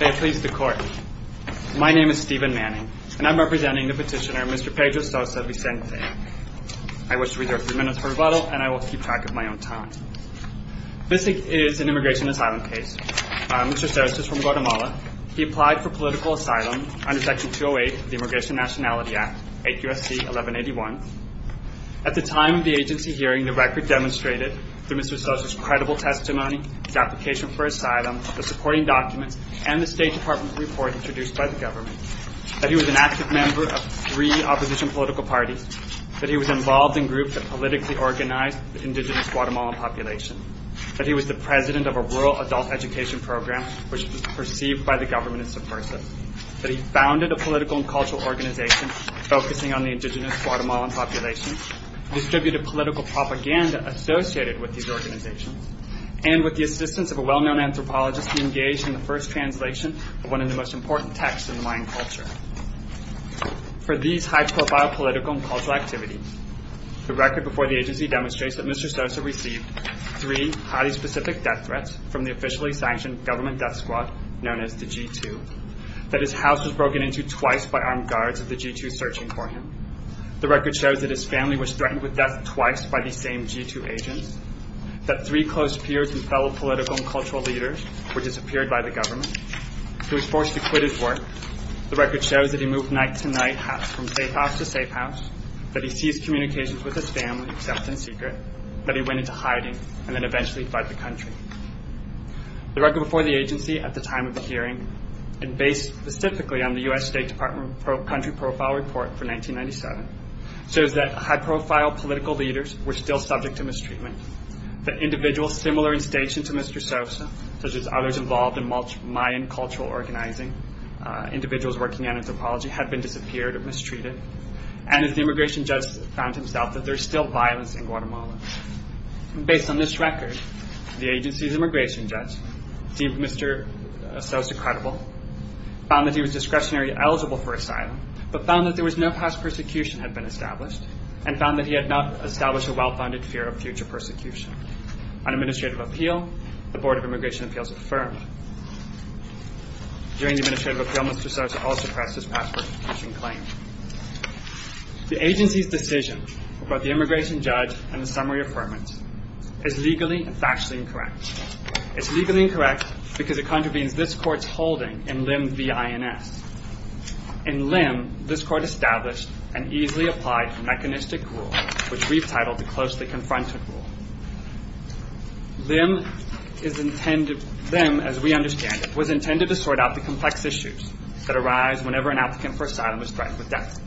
May it please the Court. My name is Stephen Manning, and I'm representing the petitioner Mr. Pedro Sosa Vicente. I wish to reserve a few minutes for rebuttal, and I will keep track of my own time. This is an immigration asylum case. Mr. Sosa is from Guatemala. He applied for political asylum under Section 208 of the Immigration Nationality Act, 8 U.S.C. 1181. At the time of the agency hearing, the record demonstrated, through Mr. Sosa's credible testimony, his application for asylum, the supporting documents, and the State Department report introduced by the government, that he was an active member of three opposition political parties, that he was involved in groups that politically organized the indigenous Guatemalan population, that he was the president of a rural adult education program, which was perceived by the government as subversive, that he founded a political and cultural organization focusing on the indigenous Guatemalan population, distributed political propaganda associated with these organizations, and with the assistance of a well-known anthropologist, he engaged in the first translation of one of the most important texts in the Mayan culture. For these high-profile political and cultural activities, the record before the agency demonstrates that Mr. Sosa received three highly specific death threats from the officially sanctioned government death squad known as the G2, that his house was broken into twice by armed guards of the G2 searching for him. The record shows that his family was threatened with death twice by the same G2 agents, that three close peers and fellow political and cultural leaders were disappeared by the government. He was forced to quit his work. The record shows that he moved night to night from safe house to safe house, that he seized communications with his family, except in secret, that he went into hiding, and then eventually fled the country. The record before the agency at the time of the hearing, and based specifically on the U.S. State Department country profile report for 1997, shows that high-profile political leaders were still subject to mistreatment, that individuals similar in station to Mr. Sosa, such as others involved in Mayan cultural organizing, individuals working on anthropology, had been disappeared or mistreated, and that the immigration judge found himself that there is still violence in Guatemala. Based on this record, the agency's immigration judge, deemed Mr. Sosa credible, found that he was discretionary eligible for asylum, but found that there was no past persecution had been established, and found that he had not established a well-founded fear of future persecution. On administrative appeal, the Board of Immigration Appeals affirmed. During the administrative appeal, Mr. Sosa also pressed his past persecution claim. The agency's decision about the immigration judge and the summary affirmance is legally and factually incorrect. It's legally incorrect because it contravenes this court's holding in LIM-V-I-N-S. In LIM, this court established an easily applied mechanistic rule, which we've titled the closely confronted rule. LIM, as we understand it, was intended to sort out the complex issues that arise whenever an applicant for asylum is threatened with death.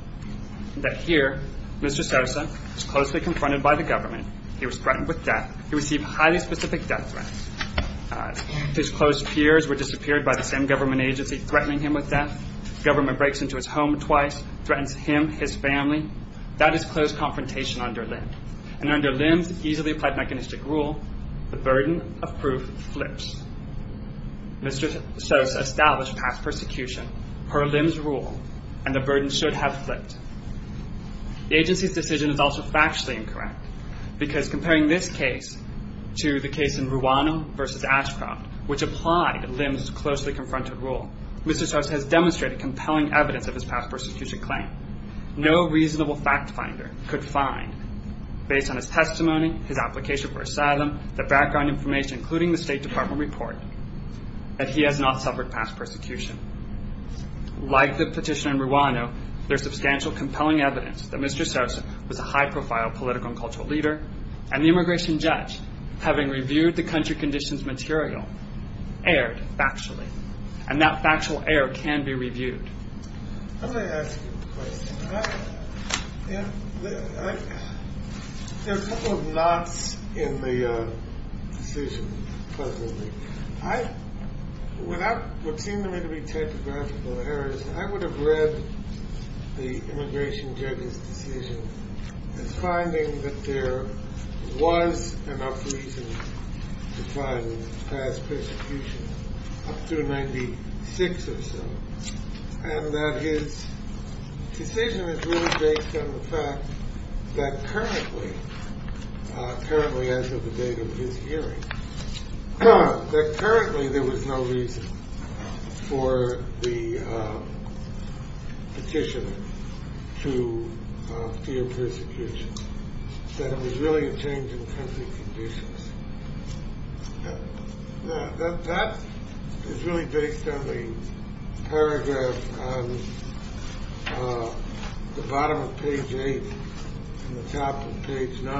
That here, Mr. Sosa was closely confronted by the government, he was threatened with death, he received highly specific death threats. His close peers were disappeared by the same government agency threatening him with death. Government breaks into his home twice, threatens him, his family. That is close confrontation under LIM. Under LIM's easily applied mechanistic rule, the burden of proof flips. Mr. Sosa established past persecution per LIM's rule, and the burden should have flipped. The agency's decision is also factually incorrect. Because comparing this case to the case in Ruano v. Ashcroft, which applied LIM's closely confronted rule, Mr. Sosa has demonstrated compelling evidence of his past persecution claim. No reasonable fact finder could find, based on his testimony, his application for asylum, the background information, including the State Department report, that he has not suffered past persecution. Like the petition in Ruano, there's substantial compelling evidence that Mr. Sosa was a high-profile political and cultural leader, and the immigration judge, having reviewed the country conditions material, erred factually. And that factual error can be reviewed. Let me ask you a question. There are a couple of knots in the decision presently. Without what seem to me to be typographical errors, I would have read the immigration judge's decision as finding that there was enough reason to find past persecution up to 1996 or so. And that his decision is really based on the fact that currently, currently as of the date of his hearing, that currently there was no reason for the petitioner to fear persecution, that it was really a change in country conditions. That is really based on the paragraph on the bottom of page 8 and the top of page 9,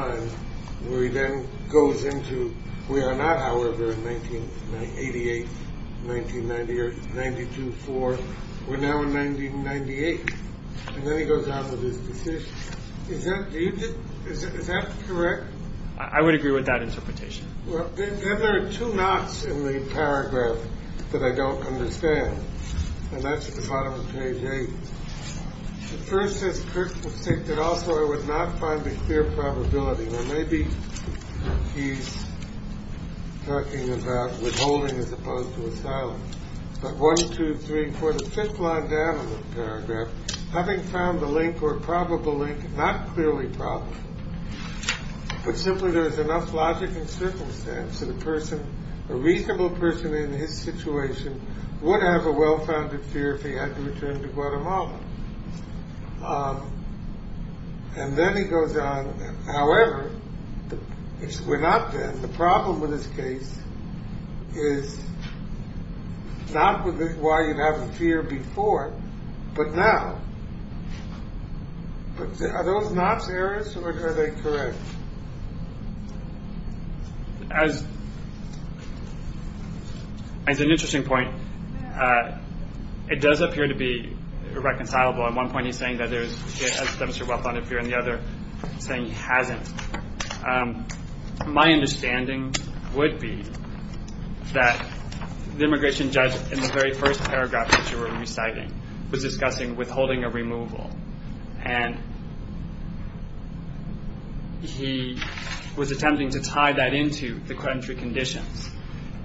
where he then goes into, we are not, however, in 1988, 1990, or 92, 4. We're now in 1998. And then he goes out with his decision. Is that correct? I would agree with that interpretation. Well, then there are two knots in the paragraph that I don't understand. And that's at the bottom of page 8. The first says Kirk was sick, but also I would not find a clear probability. Or maybe he's talking about withholding as opposed to asylum. But one, two, three, four, the fifth line down in the paragraph, having found the link or probable link, not clearly probable, but simply there is enough logic and circumstance that a person, a reasonable person in his situation would have a well-founded fear if he had to return to Guatemala. And then he goes on, however, we're not there. The problem with this case is not why you have the fear before, but now. Are those knots errors or are they correct? As an interesting point, it does appear to be irreconcilable. At one point he's saying that there's a well-founded fear, and at the other he's saying he hasn't. My understanding would be that the immigration judge in the very first paragraph that you were reciting was discussing withholding a removal. And he was attempting to tie that into the credential conditions.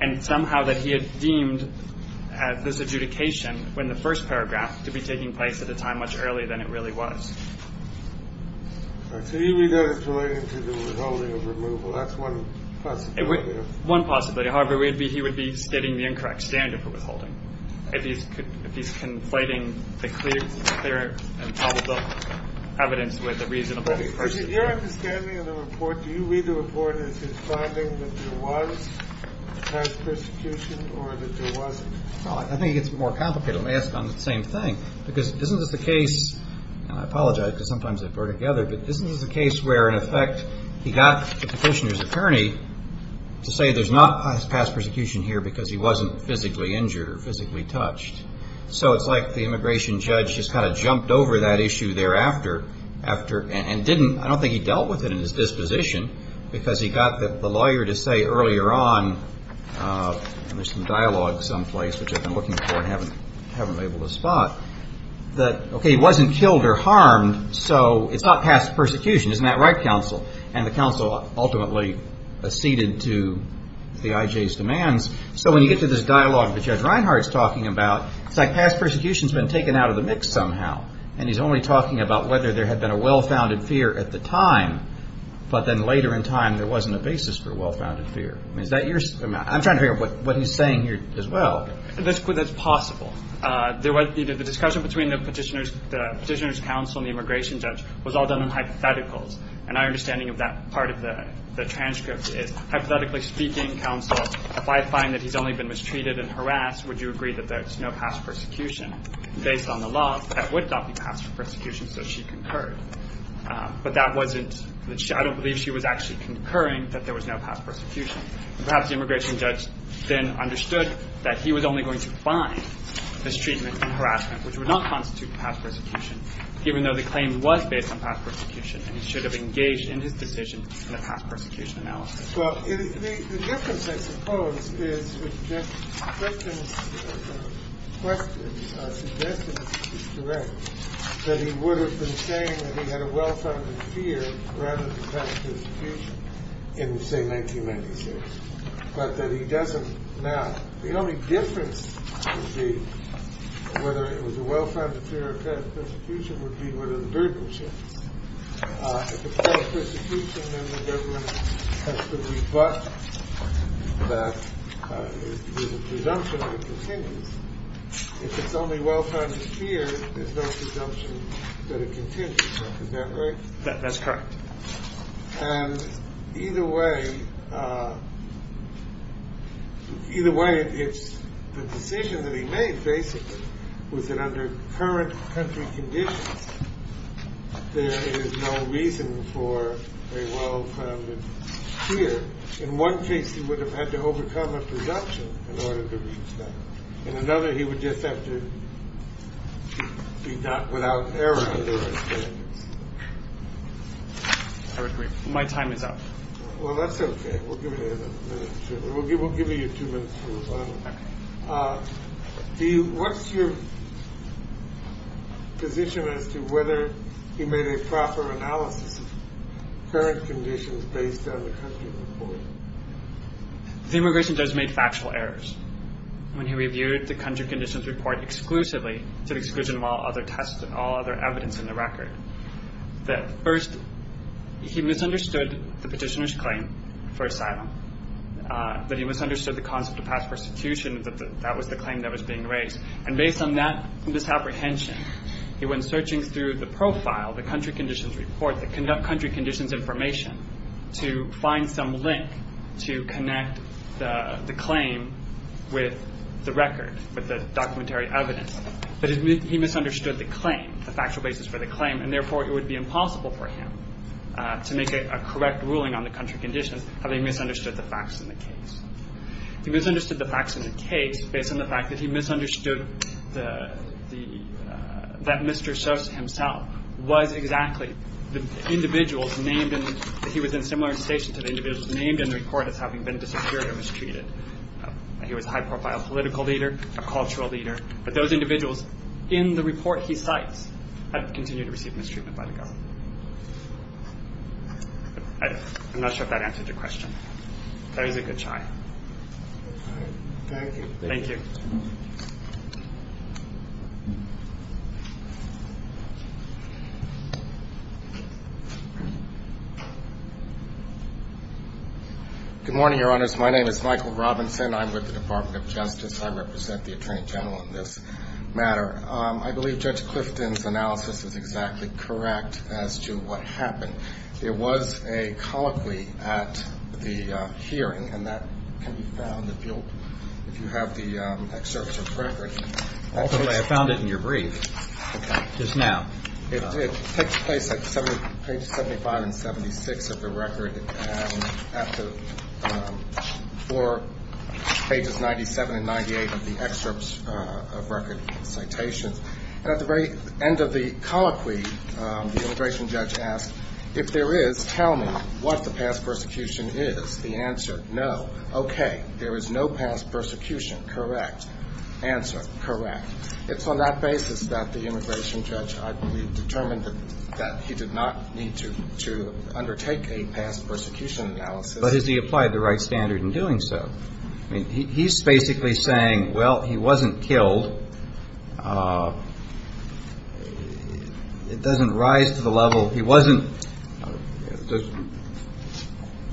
And somehow that he had deemed this adjudication when the first paragraph to be taking place at a time much earlier than it really was. So even though it's related to the withholding of removal, that's one possibility. One possibility. However, he would be stating the incorrect standard for withholding. If he's conflating the clear and probable evidence with a reasonable question. Your understanding of the report, do you read the report as his finding that there was past persecution or that there wasn't? I think it's more complicated. Let me ask on the same thing. Because isn't this the case, and I apologize because sometimes I put it together, but isn't this the case where, in effect, he got the petitioner's attorney to say there's not past persecution here because he wasn't physically injured or physically touched. So it's like the immigration judge just kind of jumped over that issue thereafter and didn't, I don't think he dealt with it in his disposition, because he got the lawyer to say earlier on, and there's some dialogue someplace which I've been looking for and haven't been able to spot, that, okay, he wasn't killed or harmed, so it's not past persecution. Isn't that right, counsel? And the counsel ultimately acceded to the IJ's demands. So when you get to this dialogue that Judge Reinhart is talking about, it's like past persecution has been taken out of the mix somehow, and he's only talking about whether there had been a well-founded fear at the time, but then later in time there wasn't a basis for a well-founded fear. I'm trying to figure out what he's saying here as well. That's possible. The discussion between the petitioner's counsel and the immigration judge was all done in hypotheticals, and our understanding of that part of the transcript is, hypothetically speaking, counsel, if I find that he's only been mistreated and harassed, would you agree that there's no past persecution? Based on the law, that would not be past persecution, so she concurred. But that wasn't, I don't believe she was actually concurring that there was no past persecution. Perhaps the immigration judge then understood that he was only going to find mistreatment and harassment, which would not constitute past persecution, even though the claim was based on past persecution and he should have engaged in his decision in a past persecution analysis. Well, the difference, I suppose, is that Christian's questions are suggesting, if he's correct, that he would have been saying that he had a well-founded fear rather than past persecution in, say, 1996, but that he doesn't now. The only difference would be whether it was a well-founded fear or past persecution would be whether the verdict was changed. If it's past persecution, then the government has to rebut that with a presumption that it continues. If it's only well-founded fear, there's no presumption that it continues. Is that right? That's correct. And either way, it's the decision that he made, basically, was that under current country conditions, there is no reason for a well-founded fear. In one case, he would have had to overcome a presumption in order to reach that. In another, he would just have to do that without error. I agree. My time is up. Well, that's OK. We'll give you two minutes to move on. What's your position as to whether he made a proper analysis of current conditions based on the country report? The immigration judge made factual errors when he reviewed the country conditions report exclusively to the exclusion of all other tests and all other evidence in the record. First, he misunderstood the petitioner's claim for asylum, that he misunderstood the concept of past persecution, that that was the claim that was being raised. And based on that misapprehension, he went searching through the profile, the country conditions report, the country conditions information, to find some link to connect the claim with the record, with the documentary evidence. But he misunderstood the claim, the factual basis for the claim, and therefore it would be impossible for him to make a correct ruling on the country conditions having misunderstood the facts in the case. He misunderstood the facts in the case based on the fact that he misunderstood that Mr. Sos himself was exactly the individual named in the report as having been disappeared or mistreated. He was a high-profile political leader, a cultural leader, but those individuals in the report he cites have continued to receive mistreatment by the government. I'm not sure if that answered your question. That was a good try. Thank you. Thank you. Good morning, Your Honors. My name is Michael Robinson. I'm with the Department of Justice. I represent the Attorney General on this matter. I believe Judge Clifton's analysis is exactly correct as to what happened. There was a colloquy at the hearing, and that can be found if you have the excerpts of the record. Ultimately, I found it in your brief. Okay. Just now. It takes place at pages 75 and 76 of the record, and at the floor pages 97 and 98 of the excerpts of record citations. At the very end of the colloquy, the immigration judge asked, if there is, tell me what the past persecution is. The answer, no. Okay. There is no past persecution. Correct. Answer. Correct. It's on that basis that the immigration judge, I believe, determined that he did not need to undertake a past persecution analysis. But has he applied the right standard in doing so? He's basically saying, well, he wasn't killed. It doesn't rise to the level, he wasn't,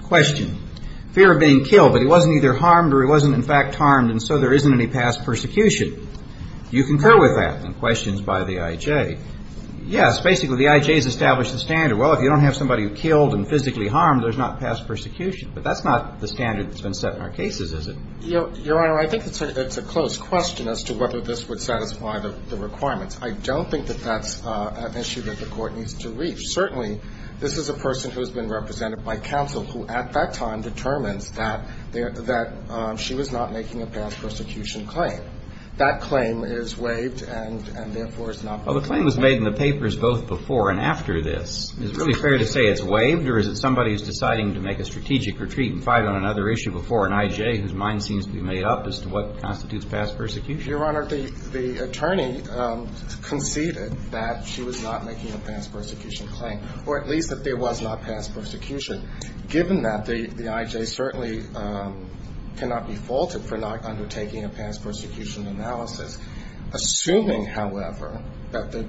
question, fear of being killed, but he wasn't either harmed or he wasn't, in fact, harmed, and so there isn't any past persecution. Do you concur with that? And the question is by the I.J. Yes, basically the I.J. has established the standard. Well, if you don't have somebody who killed and physically harmed, there's not past persecution. But that's not the standard that's been set in our cases, is it? Your Honor, I think it's a close question as to whether this would satisfy the requirements. I don't think that that's an issue that the court needs to reach. Certainly, this is a person who has been represented by counsel who, at that time, determines that she was not making a past persecution claim. That claim is waived and, therefore, is not public. Well, the claim was made in the papers both before and after this. Is it really fair to say it's waived, or is it somebody who's deciding to make a strategic retreat and fight on another issue before an I.J. whose mind seems to be made up as to what constitutes past persecution? Your Honor, the attorney conceded that she was not making a past persecution claim, or at least that there was not past persecution. Given that, the I.J. certainly cannot be faulted for not undertaking a past persecution analysis. Assuming, however, that the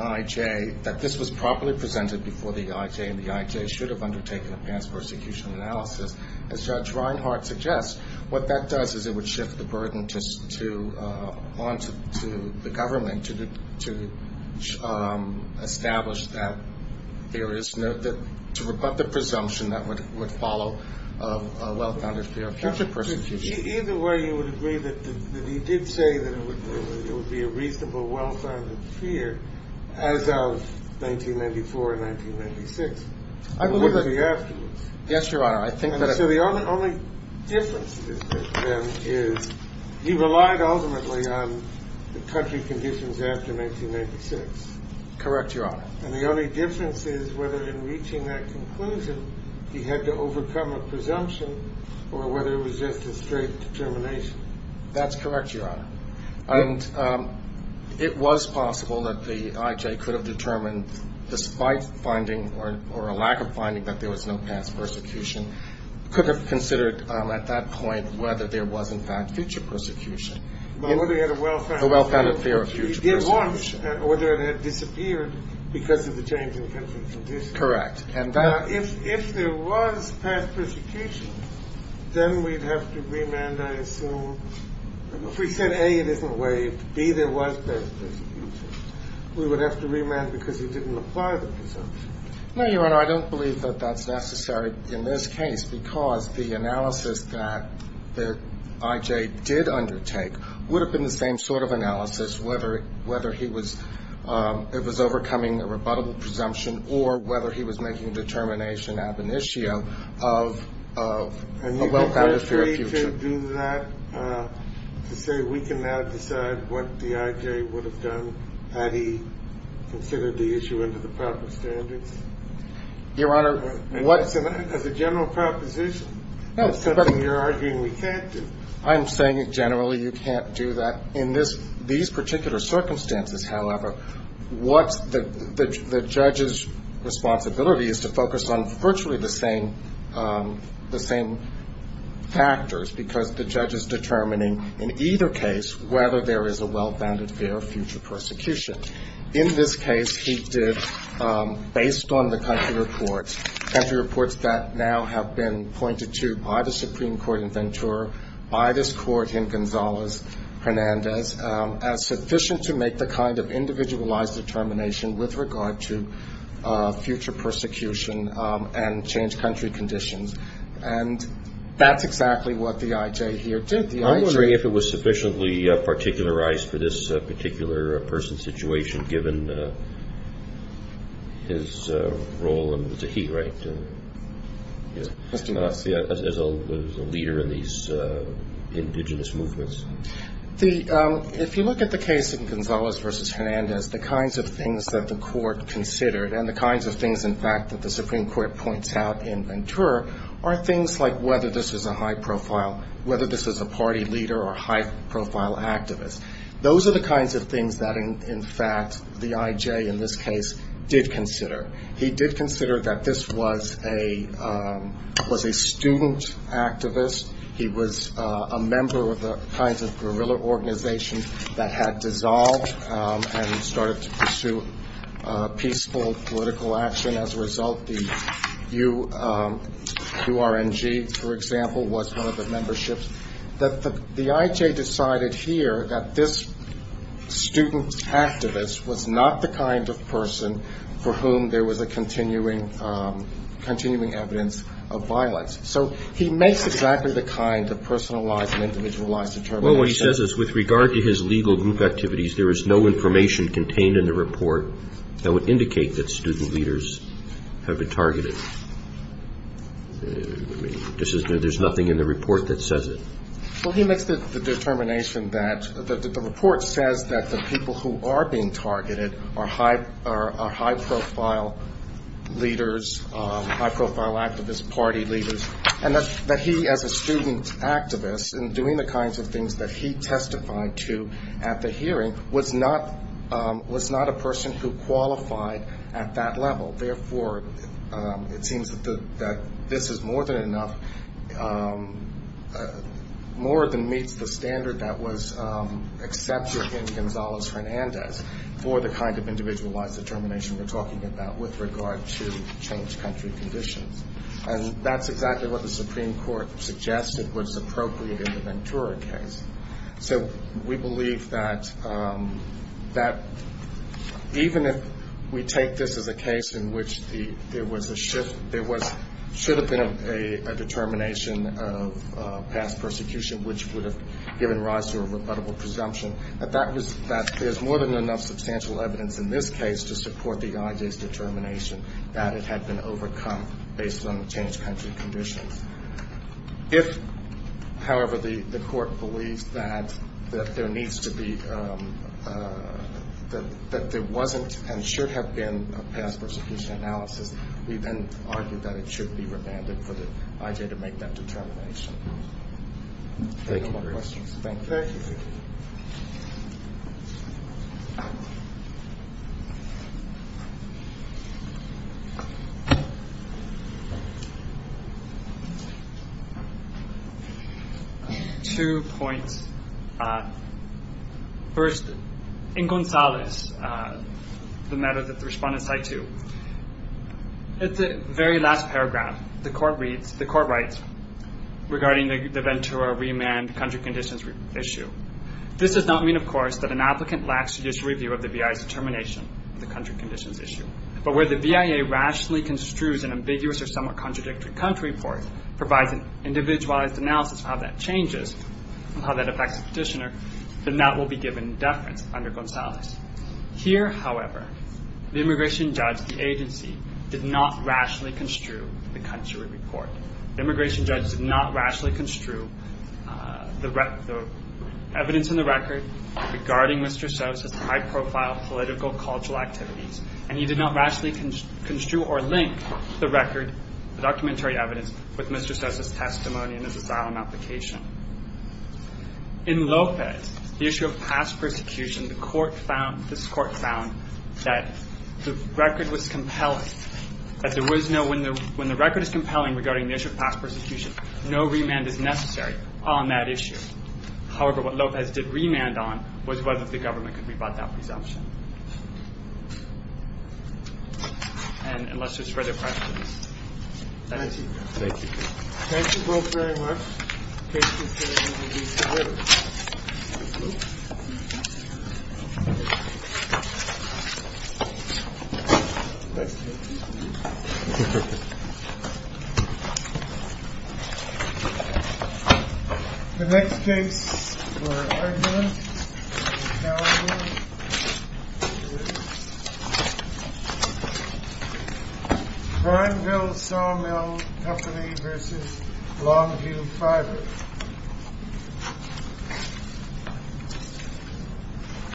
I.J. that this was properly presented before the I.J. and the I.J. should have undertaken a past persecution analysis, as Judge Reinhart suggests, what that does is it would shift the burden onto the government to establish that there is no to rebut the presumption that would follow a well-founded fear of future persecution. Either way, you would agree that he did say that it would be a reasonable well-founded fear as of 1994 and 1996, or would it be afterwards? Yes, Your Honor. So the only difference, then, is he relied ultimately on the country conditions after 1996. Correct, Your Honor. And the only difference is whether in reaching that conclusion he had to overcome a presumption or whether it was just a straight determination. That's correct, Your Honor. And it was possible that the I.J. could have determined, despite finding or a lack of finding that there was no past persecution, could have considered at that point whether there was, in fact, future persecution. But whether he had a well-founded fear of future persecution. He did want, or whether it had disappeared because of the changing country conditions. Correct. Now, if there was past persecution, then we'd have to remand, I assume. If we said, A, it isn't waived, B, there was past persecution, we would have to remand because he didn't apply the presumption. No, Your Honor, I don't believe that that's necessary in this case because the analysis that the I.J. did undertake would have been the same sort of analysis whether he was overcoming a rebuttable presumption or whether he was making a determination ab initio of a well-founded fear of future. And you agree to do that, to say we can now decide what the I.J. would have done had he considered the issue under the proper standards? Your Honor, what – As a general proposition. No, but – It's something you're arguing we can't do. I'm saying generally you can't do that. In these particular circumstances, however, what the judge's responsibility is to focus on virtually the same factors because the judge is determining in either case whether there is a well-founded fear of future persecution. In this case, he did, based on the country reports, country reports that now have been pointed to by the Supreme Court in Ventura, by this Court in Gonzalez-Hernandez, as sufficient to make the kind of individualized determination with regard to future persecution and changed country conditions. And that's exactly what the I.J. here did. The I.J. I'm wondering if it was sufficiently particularized for this particular person's situation, given his role under the Zaheerite as a leader in these indigenous movements. If you look at the case in Gonzalez-Hernandez, the kinds of things that the Court considered and the kinds of things, in fact, that the Supreme Court points out in Ventura are things like whether this is a high-profile – whether this is a party leader or high-profile activist. Those are the kinds of things that, in fact, the I.J. in this case did consider. He did consider that this was a student activist. He was a member of the kinds of guerrilla organizations that had dissolved and started to pursue peaceful political action. As a result, the U.R.N.G., for example, was one of the memberships. The I.J. decided here that this student activist was not the kind of person for whom there was a continuing evidence of violence. So he makes exactly the kind of personalized and individualized determination. Well, what he says is with regard to his legal group activities, there is no information contained in the report that would indicate that student leaders have been targeted. There's nothing in the report that says it. Well, he makes the determination that the report says that the people who are being targeted are high-profile leaders, high-profile activists, party leaders, and that he, as a student activist, in doing the kinds of things that he testified to at the hearing, was not a person who qualified at that level. Therefore, it seems that this is more than enough, more than meets the standard that was accepted in Gonzales-Hernandez for the kind of individualized determination we're talking about with regard to changed country conditions. And that's exactly what the Supreme Court suggested was appropriate in the Ventura case. So we believe that even if we take this as a case in which there was a shift, there should have been a determination of past persecution, which would have given rise to a rebuttable presumption, that there's more than enough substantial evidence in this case to support the IJ's determination that it had been overcome based on the changed country conditions. If, however, the court believes that there needs to be, that there wasn't and should have been a past persecution analysis, we then argue that it should be revanded for the IJ to make that determination. Thank you. Two points. First, in Gonzales, the matter that the respondents cite to, at the very last paragraph, the court writes, regarding the Ventura remand country conditions issue, this does not mean, of course, that an applicant lacks to disreview of the VI's determination of the country conditions issue. But where the VIA rationally construes an ambiguous or somewhat contradictory country report, provides an individualized analysis of how that changes, of how that affects the petitioner, then that will be given deference under Gonzales. Here, however, the immigration judge, the agency, did not rationally construe the country report. The immigration judge did not rationally construe the evidence in the record regarding Mr. Sos as high-profile political cultural activities, and he did not rationally construe or link the record, the documentary evidence, with Mr. Sos' testimony in his asylum application. In Lopez, the issue of past persecution, the court found, this court found, that the record was compelling, that there was no, when the record is compelling regarding the issue of past persecution, no remand is necessary on that issue. However, what Lopez did remand on was whether the government could rebut that presumption. And let's just read the questions. Thank you. Thank you. Thank you both very much. Thank you. The next case for argument is Calhoun. Crimeville Sawmill Company v. Longview Fibers.